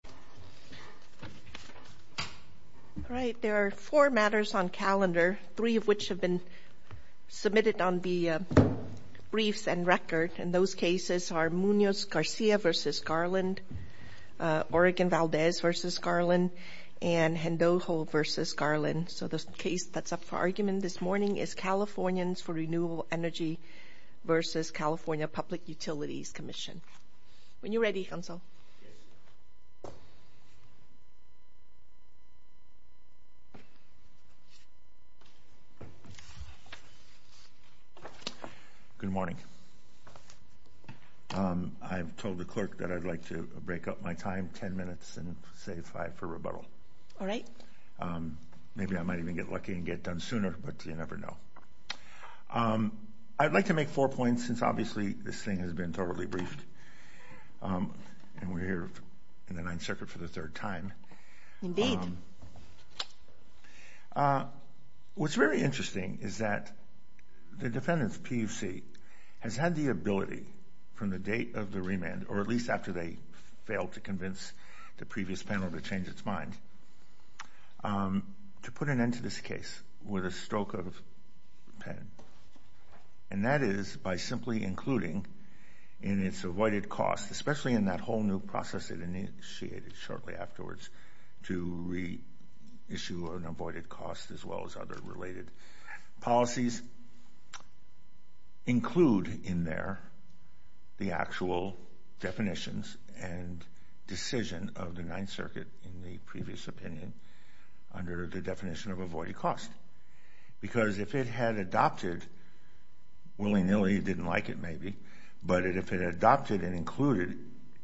California Public Utilities Commission. There are four matters on calendar, three of which have been submitted on the briefs and record. Those cases are Munoz-Garcia v. Garland, Oregon-Valdez v. Garland, and Hendoho v. Garland. So the case that's up for argument this morning is Californians for Renewable Energy v. California Public Utilities Commission. When you're ready, counsel. Good morning. I've told the clerk that I'd like to break up my time ten minutes and save five for rebuttal. All right. Maybe I might even get lucky and get it done sooner, but you never know. I'd like to make four points, since obviously this thing has been thoroughly briefed, and we're here in the Ninth Circuit for the third time. What's very interesting is that the defendant's PUC has had the ability from the date of the remand, or at least after they failed to convince the previous panel to change its mind, to put an end to this case with a stroke of a pen. And that is by simply including in its avoided cost, especially in that whole new process it initiated shortly afterwards to reissue an avoided cost as well as other related policies, include in there the actual definitions and decision of the Ninth Circuit in the previous opinion under the definition of avoided cost. Because if it had adopted, willy-nilly, it didn't like it maybe, but if it adopted and included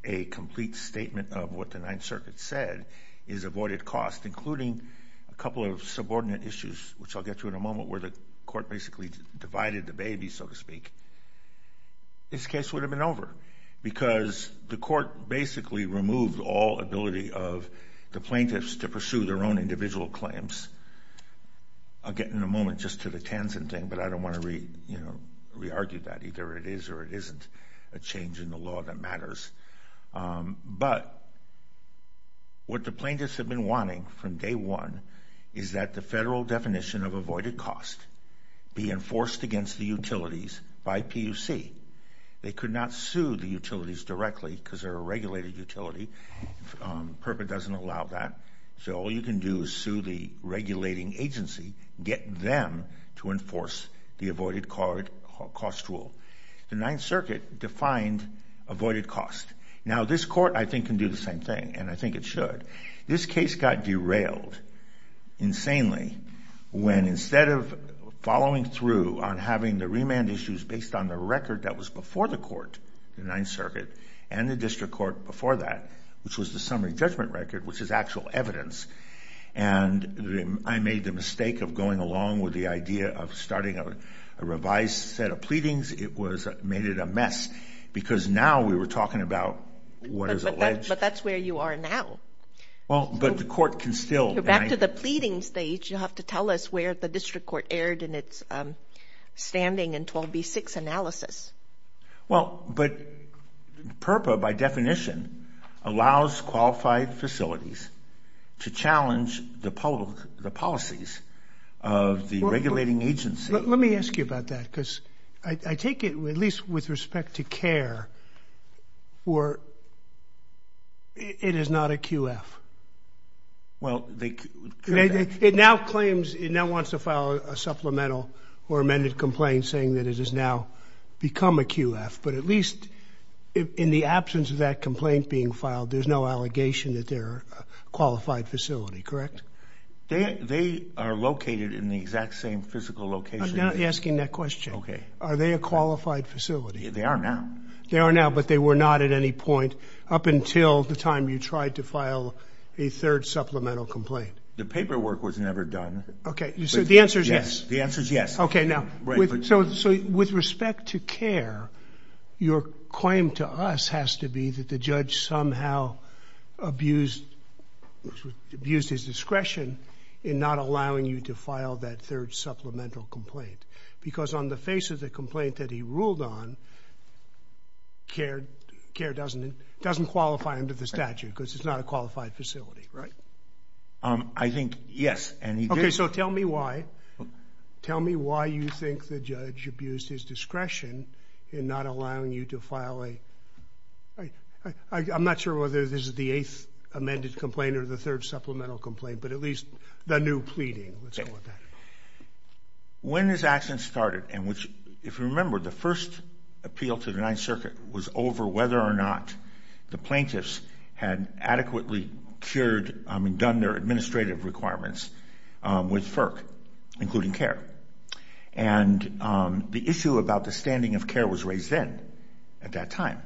a complete statement of what the Ninth Circuit said is avoided cost, including a couple of subordinate issues, which I'll get to in a moment, where the court basically divided the baby, so to speak, this case would have been over. Because the court basically removed all ability of the plaintiffs to pursue their own individual claims. I'll get in a moment just to the Tansen thing, but I don't want to re-argue that. Either it is or it isn't a change in the law that matters. But what the plaintiffs have been wanting from day one is that the federal definition of avoided cost be enforced against the utilities by PUC. They could not sue the utilities directly because they're a regulated utility. PURPA doesn't allow that. So all you can do is sue the regulating agency, get them to enforce the avoided cost rule. The Ninth Circuit defined avoided cost. Now this court, I think, can do the same thing, and I think it should. This case got derailed insanely when instead of following through on having the remand issues based on the record that was before the court, the Ninth Circuit, and the district court before that, which was the summary judgment record, which is actual evidence, and I made the mistake of going along with the idea of starting a revised set of pleadings. It made it a mess because now we were talking about what is alleged. But that's where you are now. Well, but the court can still... Back to the pleading stage, you have to tell us where the district court erred in its standing in 12B-6 analysis. Well, but PURPA, by definition, allows qualified facilities to challenge the policies of the regulating agency. Let me ask you about that because I take it, at least with respect to CARE, where it is not a QF. Well, they... It now claims... It now wants to file a supplemental or amended complaint saying that it has now become a QF, but at least in the absence of that complaint being filed, there's no allegation that they're a qualified facility, correct? They are located in the exact same physical location. I'm not asking that question. Okay. Are they a qualified facility? They are now. They are now, but they were not at any point up until the time you tried to file a third supplemental complaint. The paperwork was never done. So the answer is yes. The answer is yes. Okay. Now, with respect to CARE, your claim to us has to be that the judge somehow abused his discretion in not allowing you to file that third supplemental complaint because on the face of the complaint that he ruled on, CARE doesn't qualify under the statute because it's not a qualified facility, right? I think yes. So tell me why. Tell me why you think the judge abused his discretion in not allowing you to file a... I'm not sure whether this is the eighth amended complaint or the third supplemental complaint, but at least the new pleading. Let's go with that. When this accident started, and if you remember, the first appeal to the 9th Circuit was over whether or not the plaintiffs had adequately cured and done their administrative requirements with FERC, including CARE. And the issue about the standing of CARE was raised then at that time.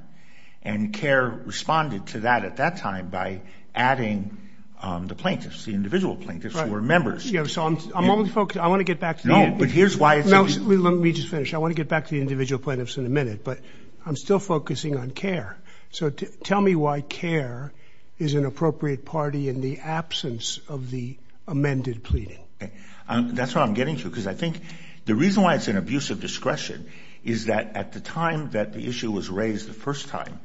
And CARE responded to that at that time by adding the plaintiffs, the individual plaintiffs who were members. So I'm only focused... I want to get back to you. No, but here's why it's... No, let me just finish. I want to get back to the individual plaintiffs in a minute. But I'm still focusing on CARE. So tell me why CARE is an appropriate party in the absence of the amended pleading. That's what I'm getting to, because I think the reason why it's an abuse of discretion is that at the time that the issue was raised the first time,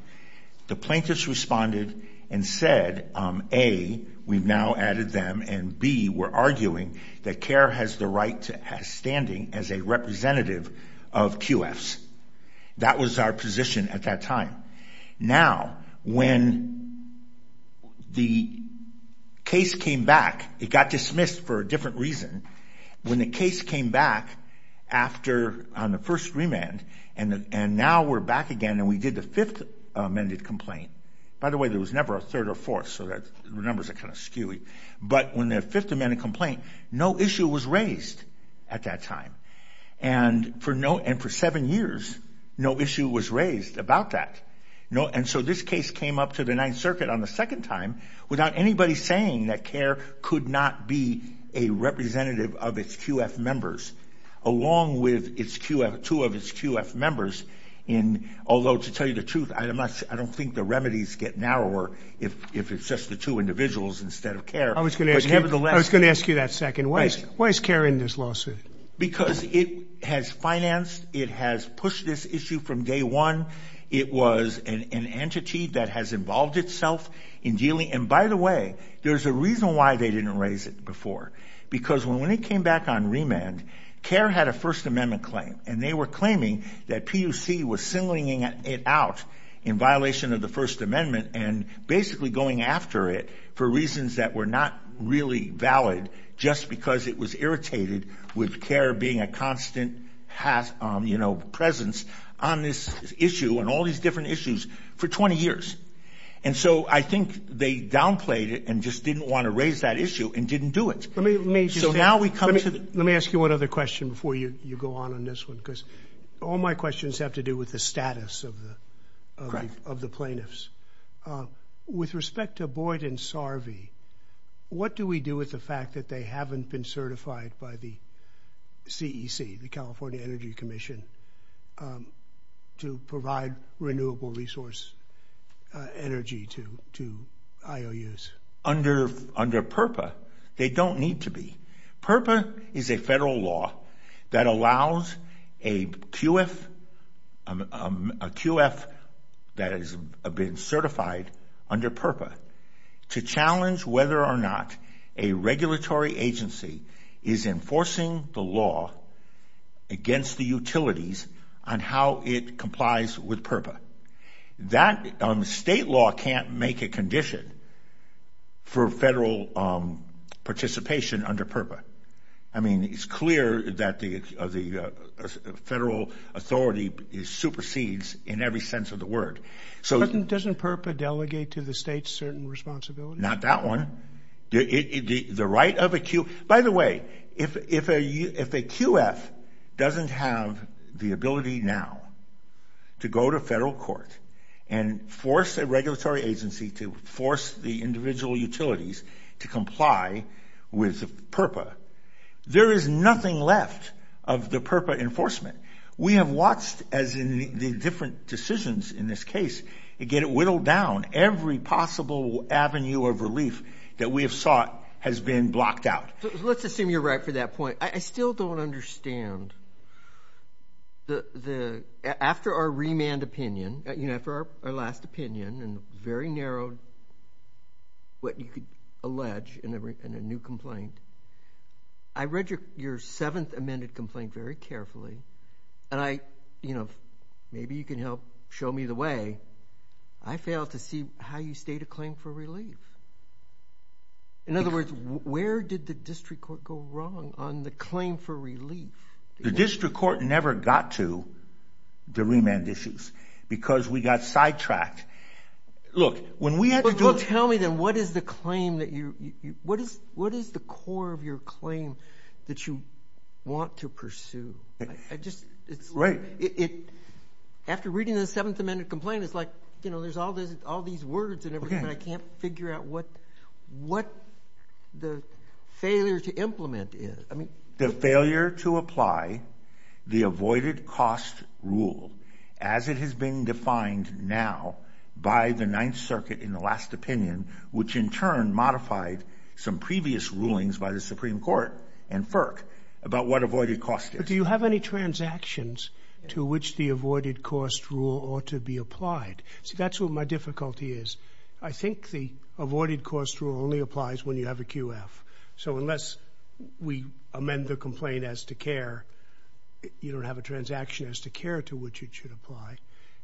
the plaintiffs responded and said, A, we've now added them, and B, we're arguing that CARE has the right to have standing as a representative of QFs. That was our position at that time. Now, when the case came back, it got dismissed for a different reason. When the case came back on the first remand, and now we're back again, and we did the fifth amended complaint. By the way, there was never a third or fourth, so the numbers are kind of skewy. But when the fifth amended complaint, no issue was raised at that time. And for seven years, no issue was raised about that. And so this case came up to the Ninth Circuit on the second time without anybody saying that CARE could not be a representative of its QF members, along with two of its QF members. Although, to tell you the truth, I don't think the remedies get narrower if it's just the two individuals instead of CARE. I was going to ask you that second. Why is CARE in this lawsuit? Because it has financed, it has pushed this issue from day one. It was an entity that has involved itself in dealing. And by the way, there's a reason why they didn't raise it before. Because when it came back on remand, CARE had a First Amendment claim. And they were claiming that PUC was singling it out in violation of the First Amendment, and basically going after it for reasons that were not really valid, just because it was irritated with CARE being a constant presence on this issue and all these different issues for 20 years. And so I think they downplayed it and just didn't want to raise that issue and didn't do it. So now we come to the... Let me ask you one other question before you go on on this one. Because all my questions have to do with the status of the plaintiffs. With respect to Boyd and Sarvey, what do we do with the fact that they haven't been certified by the CEC, the California Energy Commission, to provide renewable resource energy to IOUs? Under PURPA, they don't need to be. PURPA is a federal law that allows a QF that has been certified under PURPA to challenge whether or not a regulatory agency is enforcing the law against the utilities on how it complies with PURPA. That state law can't make a condition for federal participation under PURPA. I mean, it's clear that the federal authority supersedes in every sense of the word. Doesn't PURPA delegate to the state certain responsibilities? Not that one. The right of a Q... By the way, if a QF doesn't have the ability now to go to federal court and force a regulatory agency to force the individual utilities to comply with PURPA, there is nothing left of the PURPA enforcement. We have watched, as in the different decisions in this case, to get it whittled down. Every possible avenue of relief that we have sought has been blocked out. Let's assume you're right for that point. I still don't understand. After our remand opinion, after our last opinion, and very narrowed what you could allege in a new complaint, I read your seventh amended complaint very carefully. And maybe you can help show me the way. I failed to see how you state a claim for relief. In other words, where did the district court go wrong on the claim for relief? The district court never got to the remand issues because we got sidetracked. Look, when we had to do... Well, tell me then, what is the claim that you... What is the core of your claim that you want to pursue? Right. After reading the seventh amended complaint, it's like, you know, there's all these words and everything, but I can't figure out what the failure to implement is. The failure to apply the avoided cost rule as it has been defined now by the Ninth Circuit in the last opinion, which in turn modified some previous rulings by the Supreme Court and FERC about what avoided cost is. But do you have any transactions to which the avoided cost rule ought to be applied? See, that's what my difficulty is. I think the avoided cost rule only applies when you have a QF. So unless we amend the complaint as to care, you don't have a transaction as to care to which it should apply.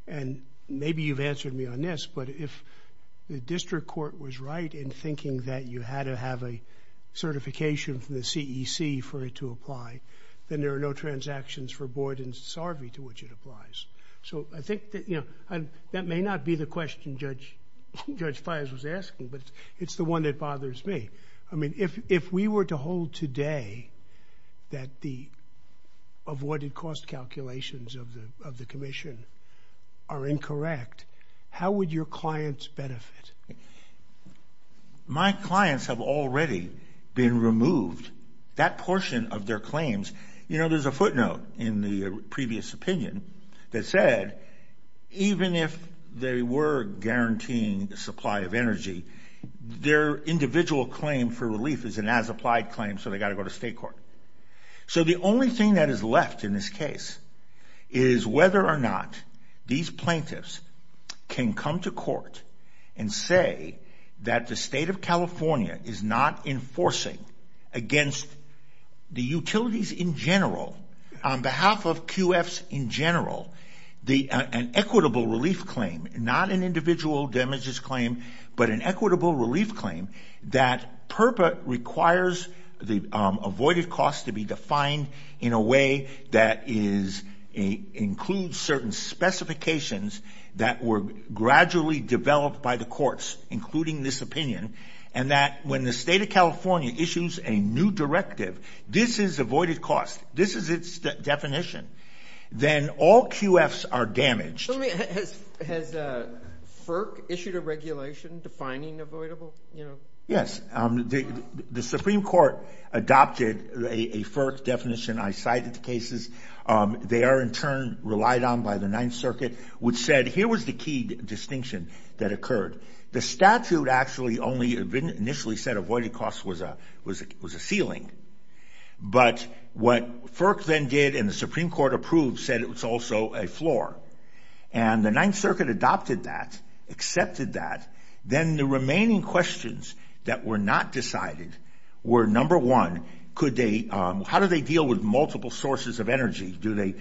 And maybe you've answered me on this, but if the district court was right in thinking that you had to have a certification from the CEC for it to apply, then there are no transactions for Boyd and Sarvey to which it applies. So I think that, you know, that may not be the question Judge Fires was asking, but it's the one that bothers me. I mean, if we were to hold today that the avoided cost calculations of the commission are incorrect, how would your clients benefit? My clients have already been removed. That portion of their claims, you know, there's a footnote in the previous opinion that said even if they were guaranteeing the supply of energy, their individual claim for relief is an as-applied claim, so they've got to go to state court. So the only thing that is left in this case is whether or not these plaintiffs can come to court and say that the state of California is not enforcing against the utilities in general, on behalf of QFs in general, an equitable relief claim, not an individual damages claim, but an equitable relief claim that requires the avoided cost to be defined in a way that includes certain specifications that were gradually developed by the courts, including this opinion, and that when the state of California issues a new directive, this is avoided cost, this is its definition, then all QFs are damaged. Has FERC issued a regulation defining avoidable? Yes, the Supreme Court adopted a FERC definition. I cited the cases. They are in turn relied on by the Ninth Circuit, which said here was the key distinction that occurred. The statute actually only initially said that avoided cost was a ceiling. But what FERC then did, and the Supreme Court approved, said it was also a floor. And the Ninth Circuit adopted that, accepted that. Then the remaining questions that were not decided were, number one, how do they deal with multiple sources of energy? Do they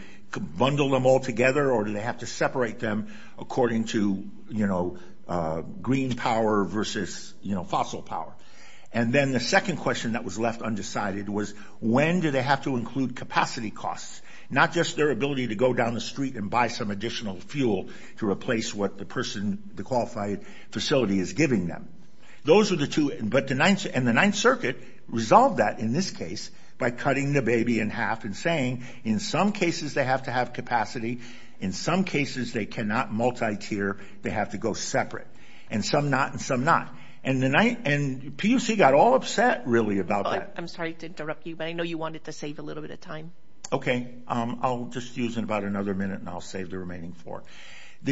bundle them all together, or do they have to separate them according to green power versus fossil power? And then the second question that was left undecided was, when do they have to include capacity costs? Not just their ability to go down the street and buy some additional fuel to replace what the person, the qualified facility is giving them. And the Ninth Circuit resolved that in this case by cutting the baby in half and saying, in some cases they have to have capacity, in some cases they cannot multi-tier, they have to go separate. And some not, and some not. And PUC got all upset, really, about that. I'm sorry to interrupt you, but I know you wanted to save a little bit of time. Okay, I'll just use it in about another minute, and I'll save the remaining four.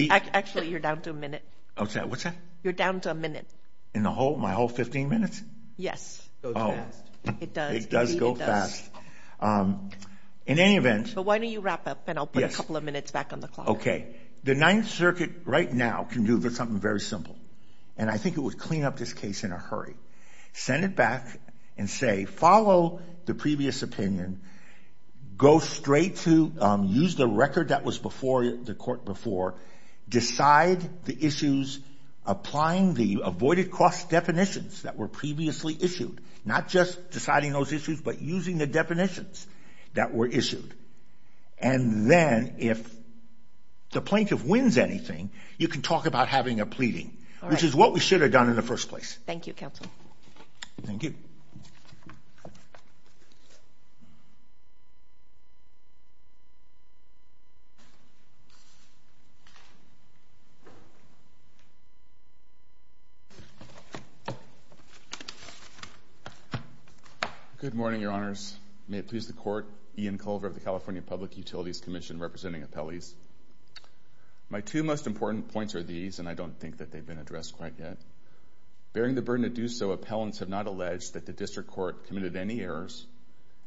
Actually, you're down to a minute. What's that? You're down to a minute. In my whole 15 minutes? Yes. It does. It does go fast. In any event... But why don't you wrap up, and I'll put a couple of minutes back on the clock. The Ninth Circuit, right now, can do something very simple. And I think it would clean up this case in a hurry. Send it back and say, follow the previous opinion, go straight to, use the record that was before the court before, decide the issues, applying the avoided cost definitions that were previously issued. Not just deciding those issues, but using the definitions that were issued. And then, if the plaintiff wins anything, you can talk about having a pleading, which is what we should have done in the first place. Thank you, counsel. Thank you. Good morning, Your Honors. May it please the Court, Ian Culver of the California Public Utilities Commission, representing appellees. My two most important points are these, and I don't think that they've been addressed quite yet. Bearing the burden to do so, appellants have not alleged that the District Court committed any errors,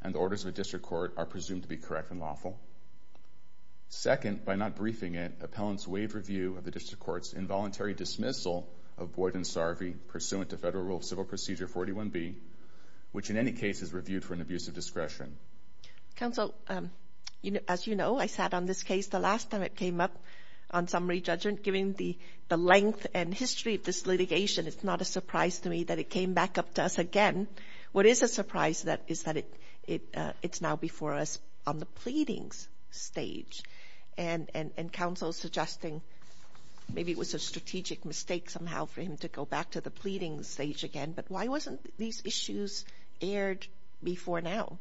and the orders of the District Court are presumed to be correct and lawful. Second, by not briefing it, appellants waive review of the District Court's involuntary dismissal of Boyd and Sarvey, pursuant to Federal Rule of Civil Procedure 41B, which in any case is reviewed for an abuse of discretion. Counsel, as you know, I sat on this case the last time it came up on summary judgment. Given the length and history of this litigation, it's not a surprise to me that it came back up to us again. What is a surprise is that it's now before us on the pleadings stage, and counsel suggesting maybe it was a strategic mistake somehow for him to go back to the pleadings stage again. But why wasn't these issues aired before now?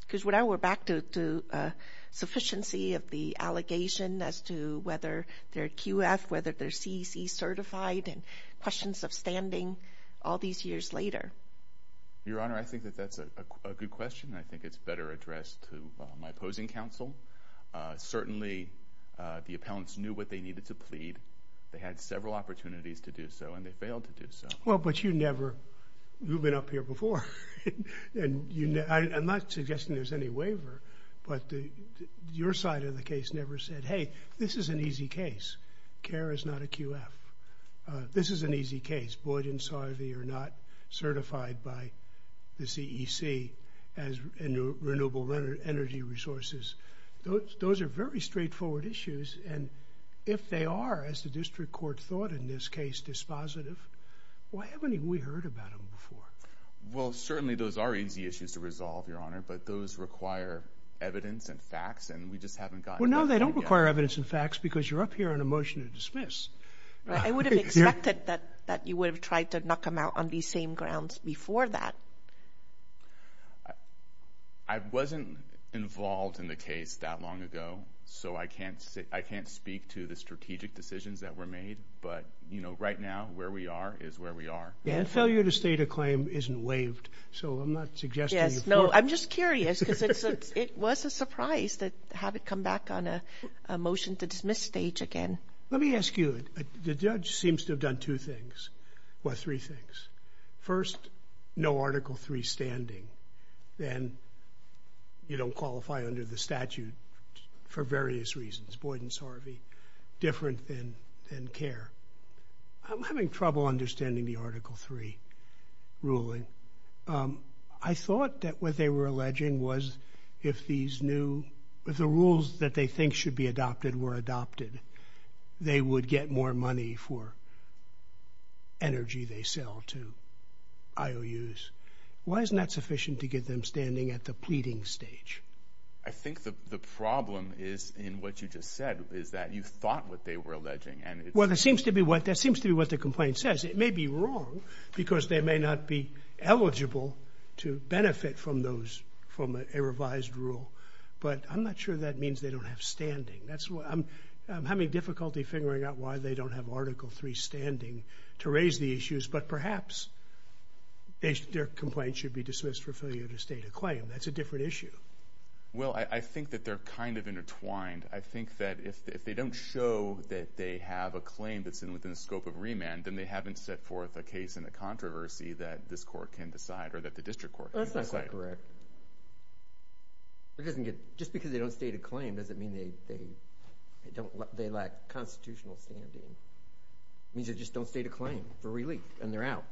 Because when I went back to sufficiency of the allegation as to whether they're QF, whether they're CEC certified, and questions of standing all these years later. Your Honor, I think that that's a good question. I think it's better addressed to my opposing counsel. Certainly, the appellants knew what they needed to plead. They had several opportunities to do so, and they failed to do so. Well, but you never... You've been up here before, and I'm not suggesting there's any waiver, but your side of the case never said, Hey, this is an easy case. CARE is not a QF. This is an easy case. Boyd and Sarvey are not certified by the CEC as renewable energy resources. Those are very straightforward issues, and if they are, as the district court thought in this case, dispositive, why haven't we heard about them before? Well, certainly those are easy issues to resolve, Your Honor, but those require evidence and facts, and we just haven't gotten... Well, no, they don't require evidence and facts because you're up here on a motion to dismiss. I would have expected that you would have tried to knock them out on these same grounds before that. I wasn't involved in the case that long ago, so I can't speak to the strategic decisions that were made, but, you know, right now, where we are is where we are. And failure to state a claim isn't waived, so I'm not suggesting... Yes, no, I'm just curious, because it was a surprise to have it come back on a motion to dismiss stage again. Let me ask you, the judge seems to have done two things, well, three things. First, no Article III standing, and you don't qualify under the statute for various reasons. Boyd and Sarvey, different than CARE. I'm having trouble understanding the Article III ruling. I thought that what they were alleging was if these new... if the rules that they think should be adopted were adopted, they would get more money for energy they sell to IOUs. Why isn't that sufficient to get them standing at the pleading stage? I think the problem is, in what you just said, is that you thought what they were alleging. Well, that seems to be what the complaint says. It may be wrong, because they may not be eligible to benefit from a revised rule, but I'm not sure that means they don't have standing. I'm having difficulty figuring out why they don't have Article III standing to raise the issues, but perhaps their complaint should be dismissed for failure to state a claim. That's a different issue. Well, I think that they're kind of intertwined. I think that if they don't show that they have a claim that's within the scope of remand, then they haven't set forth a case in the controversy that this court can decide, or that the district court can decide. That's not correct. Just because they don't state a claim, doesn't mean they lack constitutional standing. It means they just don't state a claim for relief, and they're out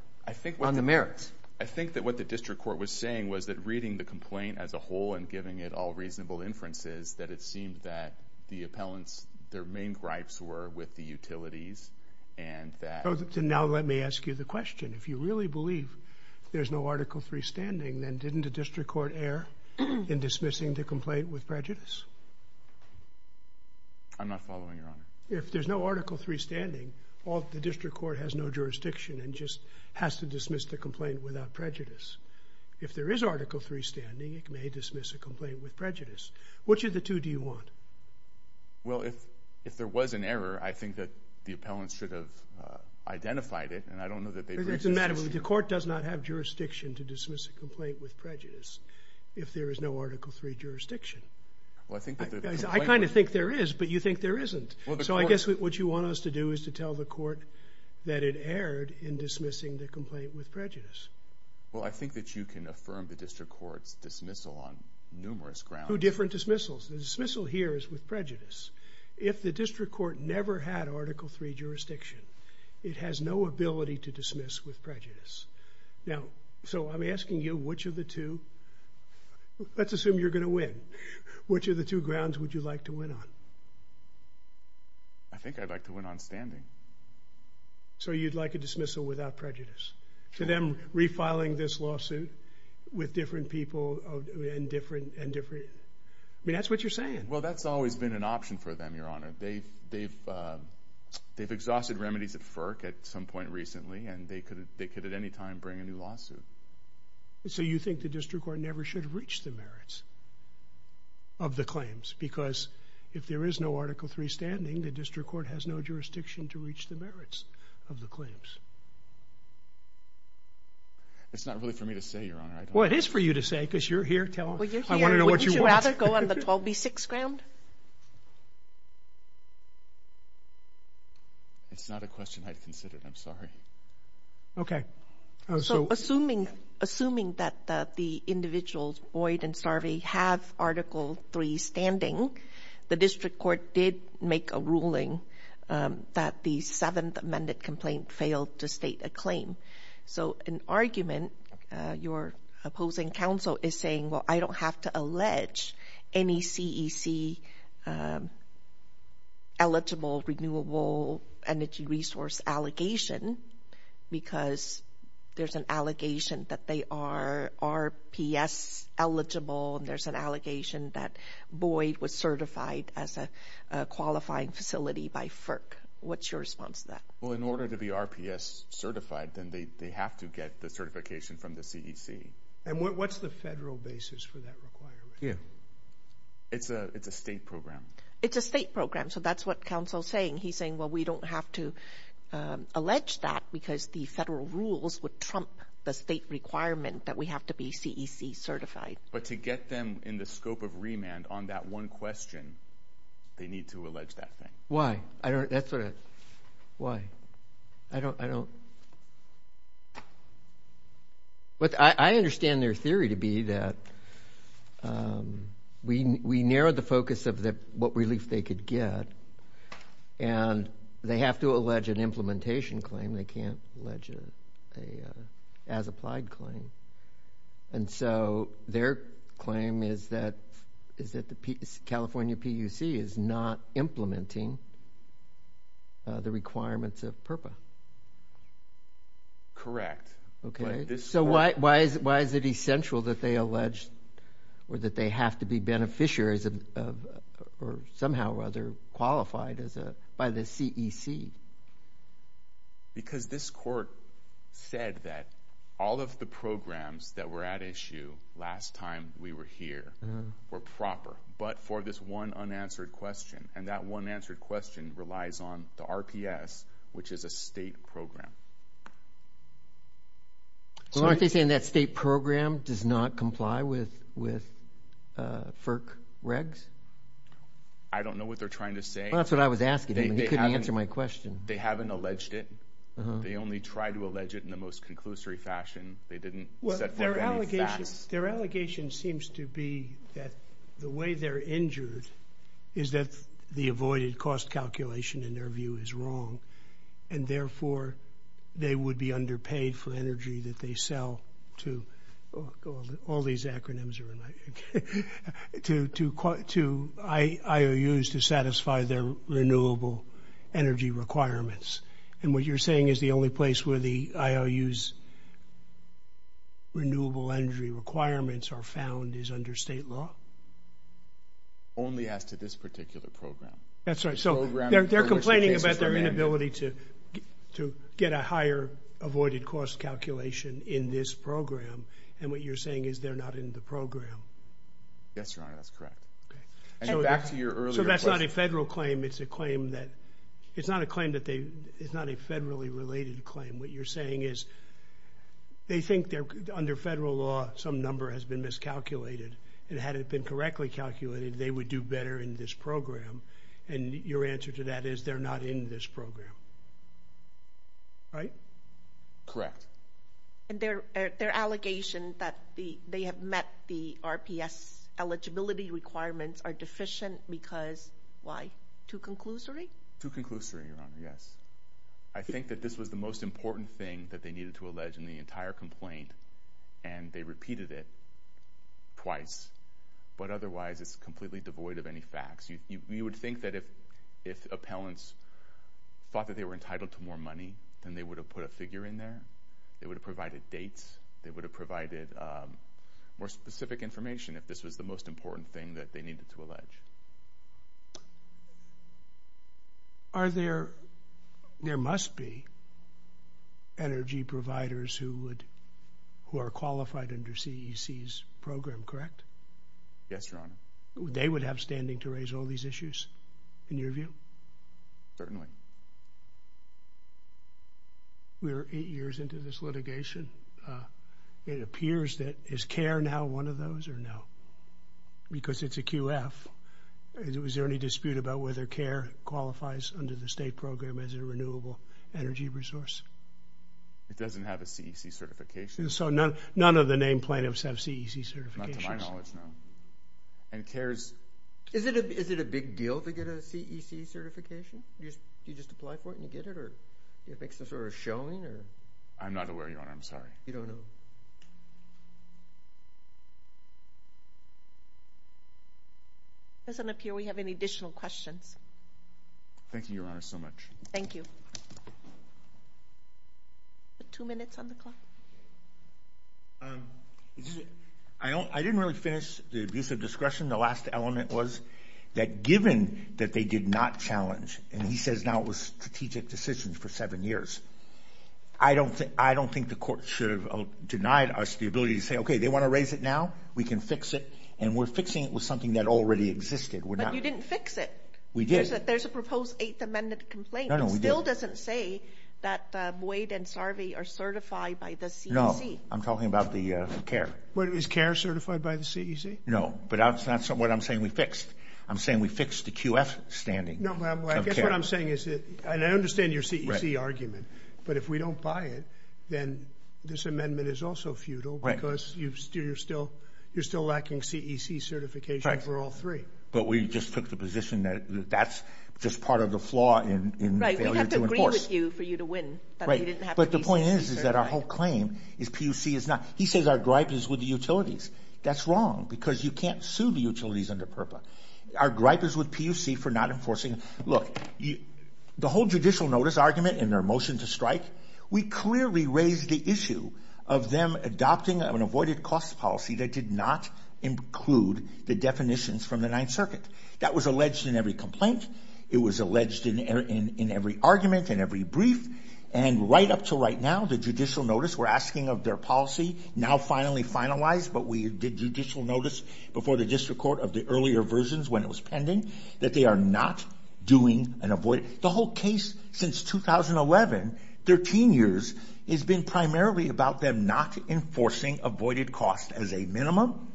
on the merits. I think that what the district court was saying was that reading the complaint as a whole and giving it all reasonable inferences, that it seemed that the appellants, their main gripes were with the utilities, and that... So now let me ask you the question. If you really believe there's no Article III standing, then didn't the district court err in dismissing the complaint with prejudice? I'm not following, Your Honor. If there's no Article III standing, the district court has no jurisdiction and just has to dismiss the complaint without prejudice. If there is Article III standing, it may dismiss a complaint with prejudice. Which of the two do you want? Well, if there was an error, I think that the appellants should have identified it, and I don't know that they... It doesn't matter. The court does not have jurisdiction to dismiss a complaint with prejudice if there is no Article III jurisdiction. I kind of think there is, but you think there isn't. So I guess what you want us to do is to tell the court that it erred in dismissing the complaint with prejudice. Well, I think that you can affirm the district court's dismissal on numerous grounds. Two different dismissals. The dismissal here is with prejudice. If the district court never had Article III jurisdiction, it has no ability to dismiss with prejudice. Now, so I'm asking you, which of the two... Let's assume you're going to win. Which of the two grounds would you like to win on? I think I'd like to win on standing. So you'd like a dismissal without prejudice? To them refiling this lawsuit with different people and different... I mean, that's what you're saying. Well, that's always been an option for them, Your Honor. They've exhausted remedies at FERC at some point recently, and they could at any time bring a new lawsuit. So you think the district court never should have reached the merits of the claims? Because if there is no Article III standing, the district court has no jurisdiction to reach the merits of the claims. It's not really for me to say, Your Honor. Well, it is for you to say, because you're here. Well, you're here. Wouldn't you rather go on the 12B6 ground? It's not a question I'd consider. I'm sorry. Assuming that the individuals, Boyd and Starvey, have Article III standing, the district court did make a ruling that the seventh amended complaint failed to state a claim. So an argument, your opposing counsel is saying, well, I don't have to allege any CEC-eligible renewable energy resource allegation because there's an allegation that they are RPS-eligible, and there's an allegation that Boyd was certified as a qualifying facility by FERC. What's your response to that? Well, in order to be RPS-certified, then they have to get the certification from the CEC. And what's the federal basis for that requirement? It's a state program. It's a state program. So that's what counsel's saying. He's saying, well, we don't have to allege that because the federal rules would trump the state requirement that we have to be CEC-certified. But to get them in the scope of remand on that one question, they need to allege that thing. Why? I don't... I understand their theory to be that we narrowed the focus of what relief they could get, and they have to allege an implementation claim. They can't allege an as-applied claim. And so their claim is that California PUC is not implementing the requirements of PURPA. Correct. So why is it essential that they allege or that they have to be beneficiaries of or somehow or other qualified by the CEC? Because this court said that all of the programs that were at issue last time we were here were proper, but for this one unanswered question. And that one answered question relies on the RPS, which is a state program. Well, aren't they saying that state program does not comply with FERC regs? I don't know what they're trying to say. That's what I was asking. They haven't alleged it. They only tried to allege it in the most conclusory fashion. They didn't set forth any facts. Their allegation seems to be that the way they're injured is that the avoided cost calculation in their view is wrong. And therefore they would be underpaid for energy that they sell to all these acronyms to IOUs to satisfy their renewable energy requirements. And what you're saying is the only place where the IOUs renewable energy requirements are found is under state law? Only as to this particular program. They're complaining about their inability to get a higher avoided cost calculation in this program. And what you're saying is they're not in the program. Yes, Your Honor, that's correct. So that's not a federal claim. It's a claim that it's not a federally related claim. What you're saying is they think under federal law some number has been miscalculated. And had it been correctly miscalculated, they would do better in this program. And your answer to that is they're not in this program. Right? Correct. And their allegation that they have met the RPS eligibility requirements are deficient because, why, too conclusory? Too conclusory, Your Honor, yes. I think that this was the most important thing that they needed to allege in the entire complaint. And they repeated it twice. But otherwise it's completely devoid of any facts. You would think that if appellants thought that they were entitled to more money then they would have put a figure in there. They would have provided dates. They would have provided more specific information if this was the most important thing that they needed to allege. Are there there must be energy providers who would who are qualified under CEC's program, correct? They would have standing to raise all these issues? In your view? Certainly. We're eight years into this litigation. It appears that is CARE now one of those or no? Because it's a QF. Is there any dispute about whether CARE qualifies under the state program as a renewable energy resource? It doesn't have a CEC certification. So none of the named plaintiffs have CEC certifications? Not to my knowledge, no. And CARE's... Is it a big deal to get a CEC certification? Do you just apply for it and you get it? Or do you make some sort of showing? I'm not aware, Your Honor. I'm sorry. You don't know. It doesn't appear we have any additional questions. Thank you, Your Honor, so much. Thank you. Two minutes on the clock. I didn't really finish the use of discretion. The last element was that given that they did not challenge, and he says now it was strategic decisions for seven years, I don't think the court should have denied us the ability to say, okay, they want to raise it now, we can fix it, and we're fixing it with something that already existed. But you didn't fix it. We did. There's a proposed Eighth Amendment complaint. It still doesn't say that Wade and Sarvey are certified by the CEC. I'm talking about the CARE. Is CARE certified by the CEC? No, but that's not what I'm saying we fixed. I'm saying we fixed the QF standing. I guess what I'm saying is that I understand your CEC argument, but if we don't buy it, then this amendment is also futile because you're still lacking CEC certification for all three. But we just took the position that that's just part of the flaw in failure to enforce. We'd have to agree with you for you to win. But the point is that our whole claim is PUC is not. He says our gripe is with the utilities. That's wrong because you can't sue the utilities under PURPA. Our gripe is with PUC for not enforcing. Look, the whole judicial notice argument and their motion to strike, we clearly raised the issue of them adopting an avoided cost policy that did not include the definitions from the Ninth Circuit. That was alleged in every complaint. It was alleged in every argument, in every brief. And right up to right now, the judicial notice, we're asking of their policy, now finally finalized, but we did judicial notice before the district court of the earlier versions when it was pending, that they are not doing an avoided. The whole case since 2011, 13 years, has been primarily about them not enforcing avoided cost as a minimum,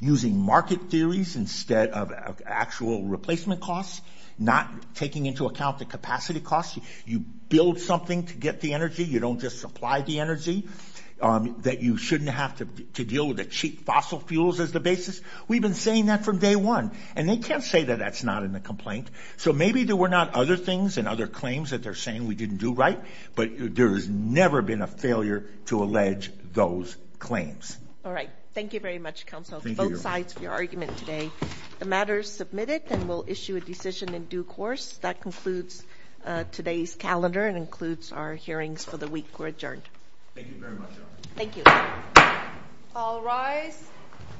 using market theories instead of actual replacement costs, not taking into account the capacity costs. You build something to get the energy. You don't just supply the energy that you shouldn't have to deal with the cheap fossil fuels as the basis. We've been saying that from day one. And they can't say that that's not in the complaint. So maybe there were not other things and other claims that they're saying we didn't do right, but there has never been a failure to allege those claims. All right. Thank you very much, Counsel. Both sides for your argument today. The matter is submitted and we'll issue a decision in due course. That concludes today's calendar and includes our hearings for the week. We're adjourned. Thank you very much. Thank you.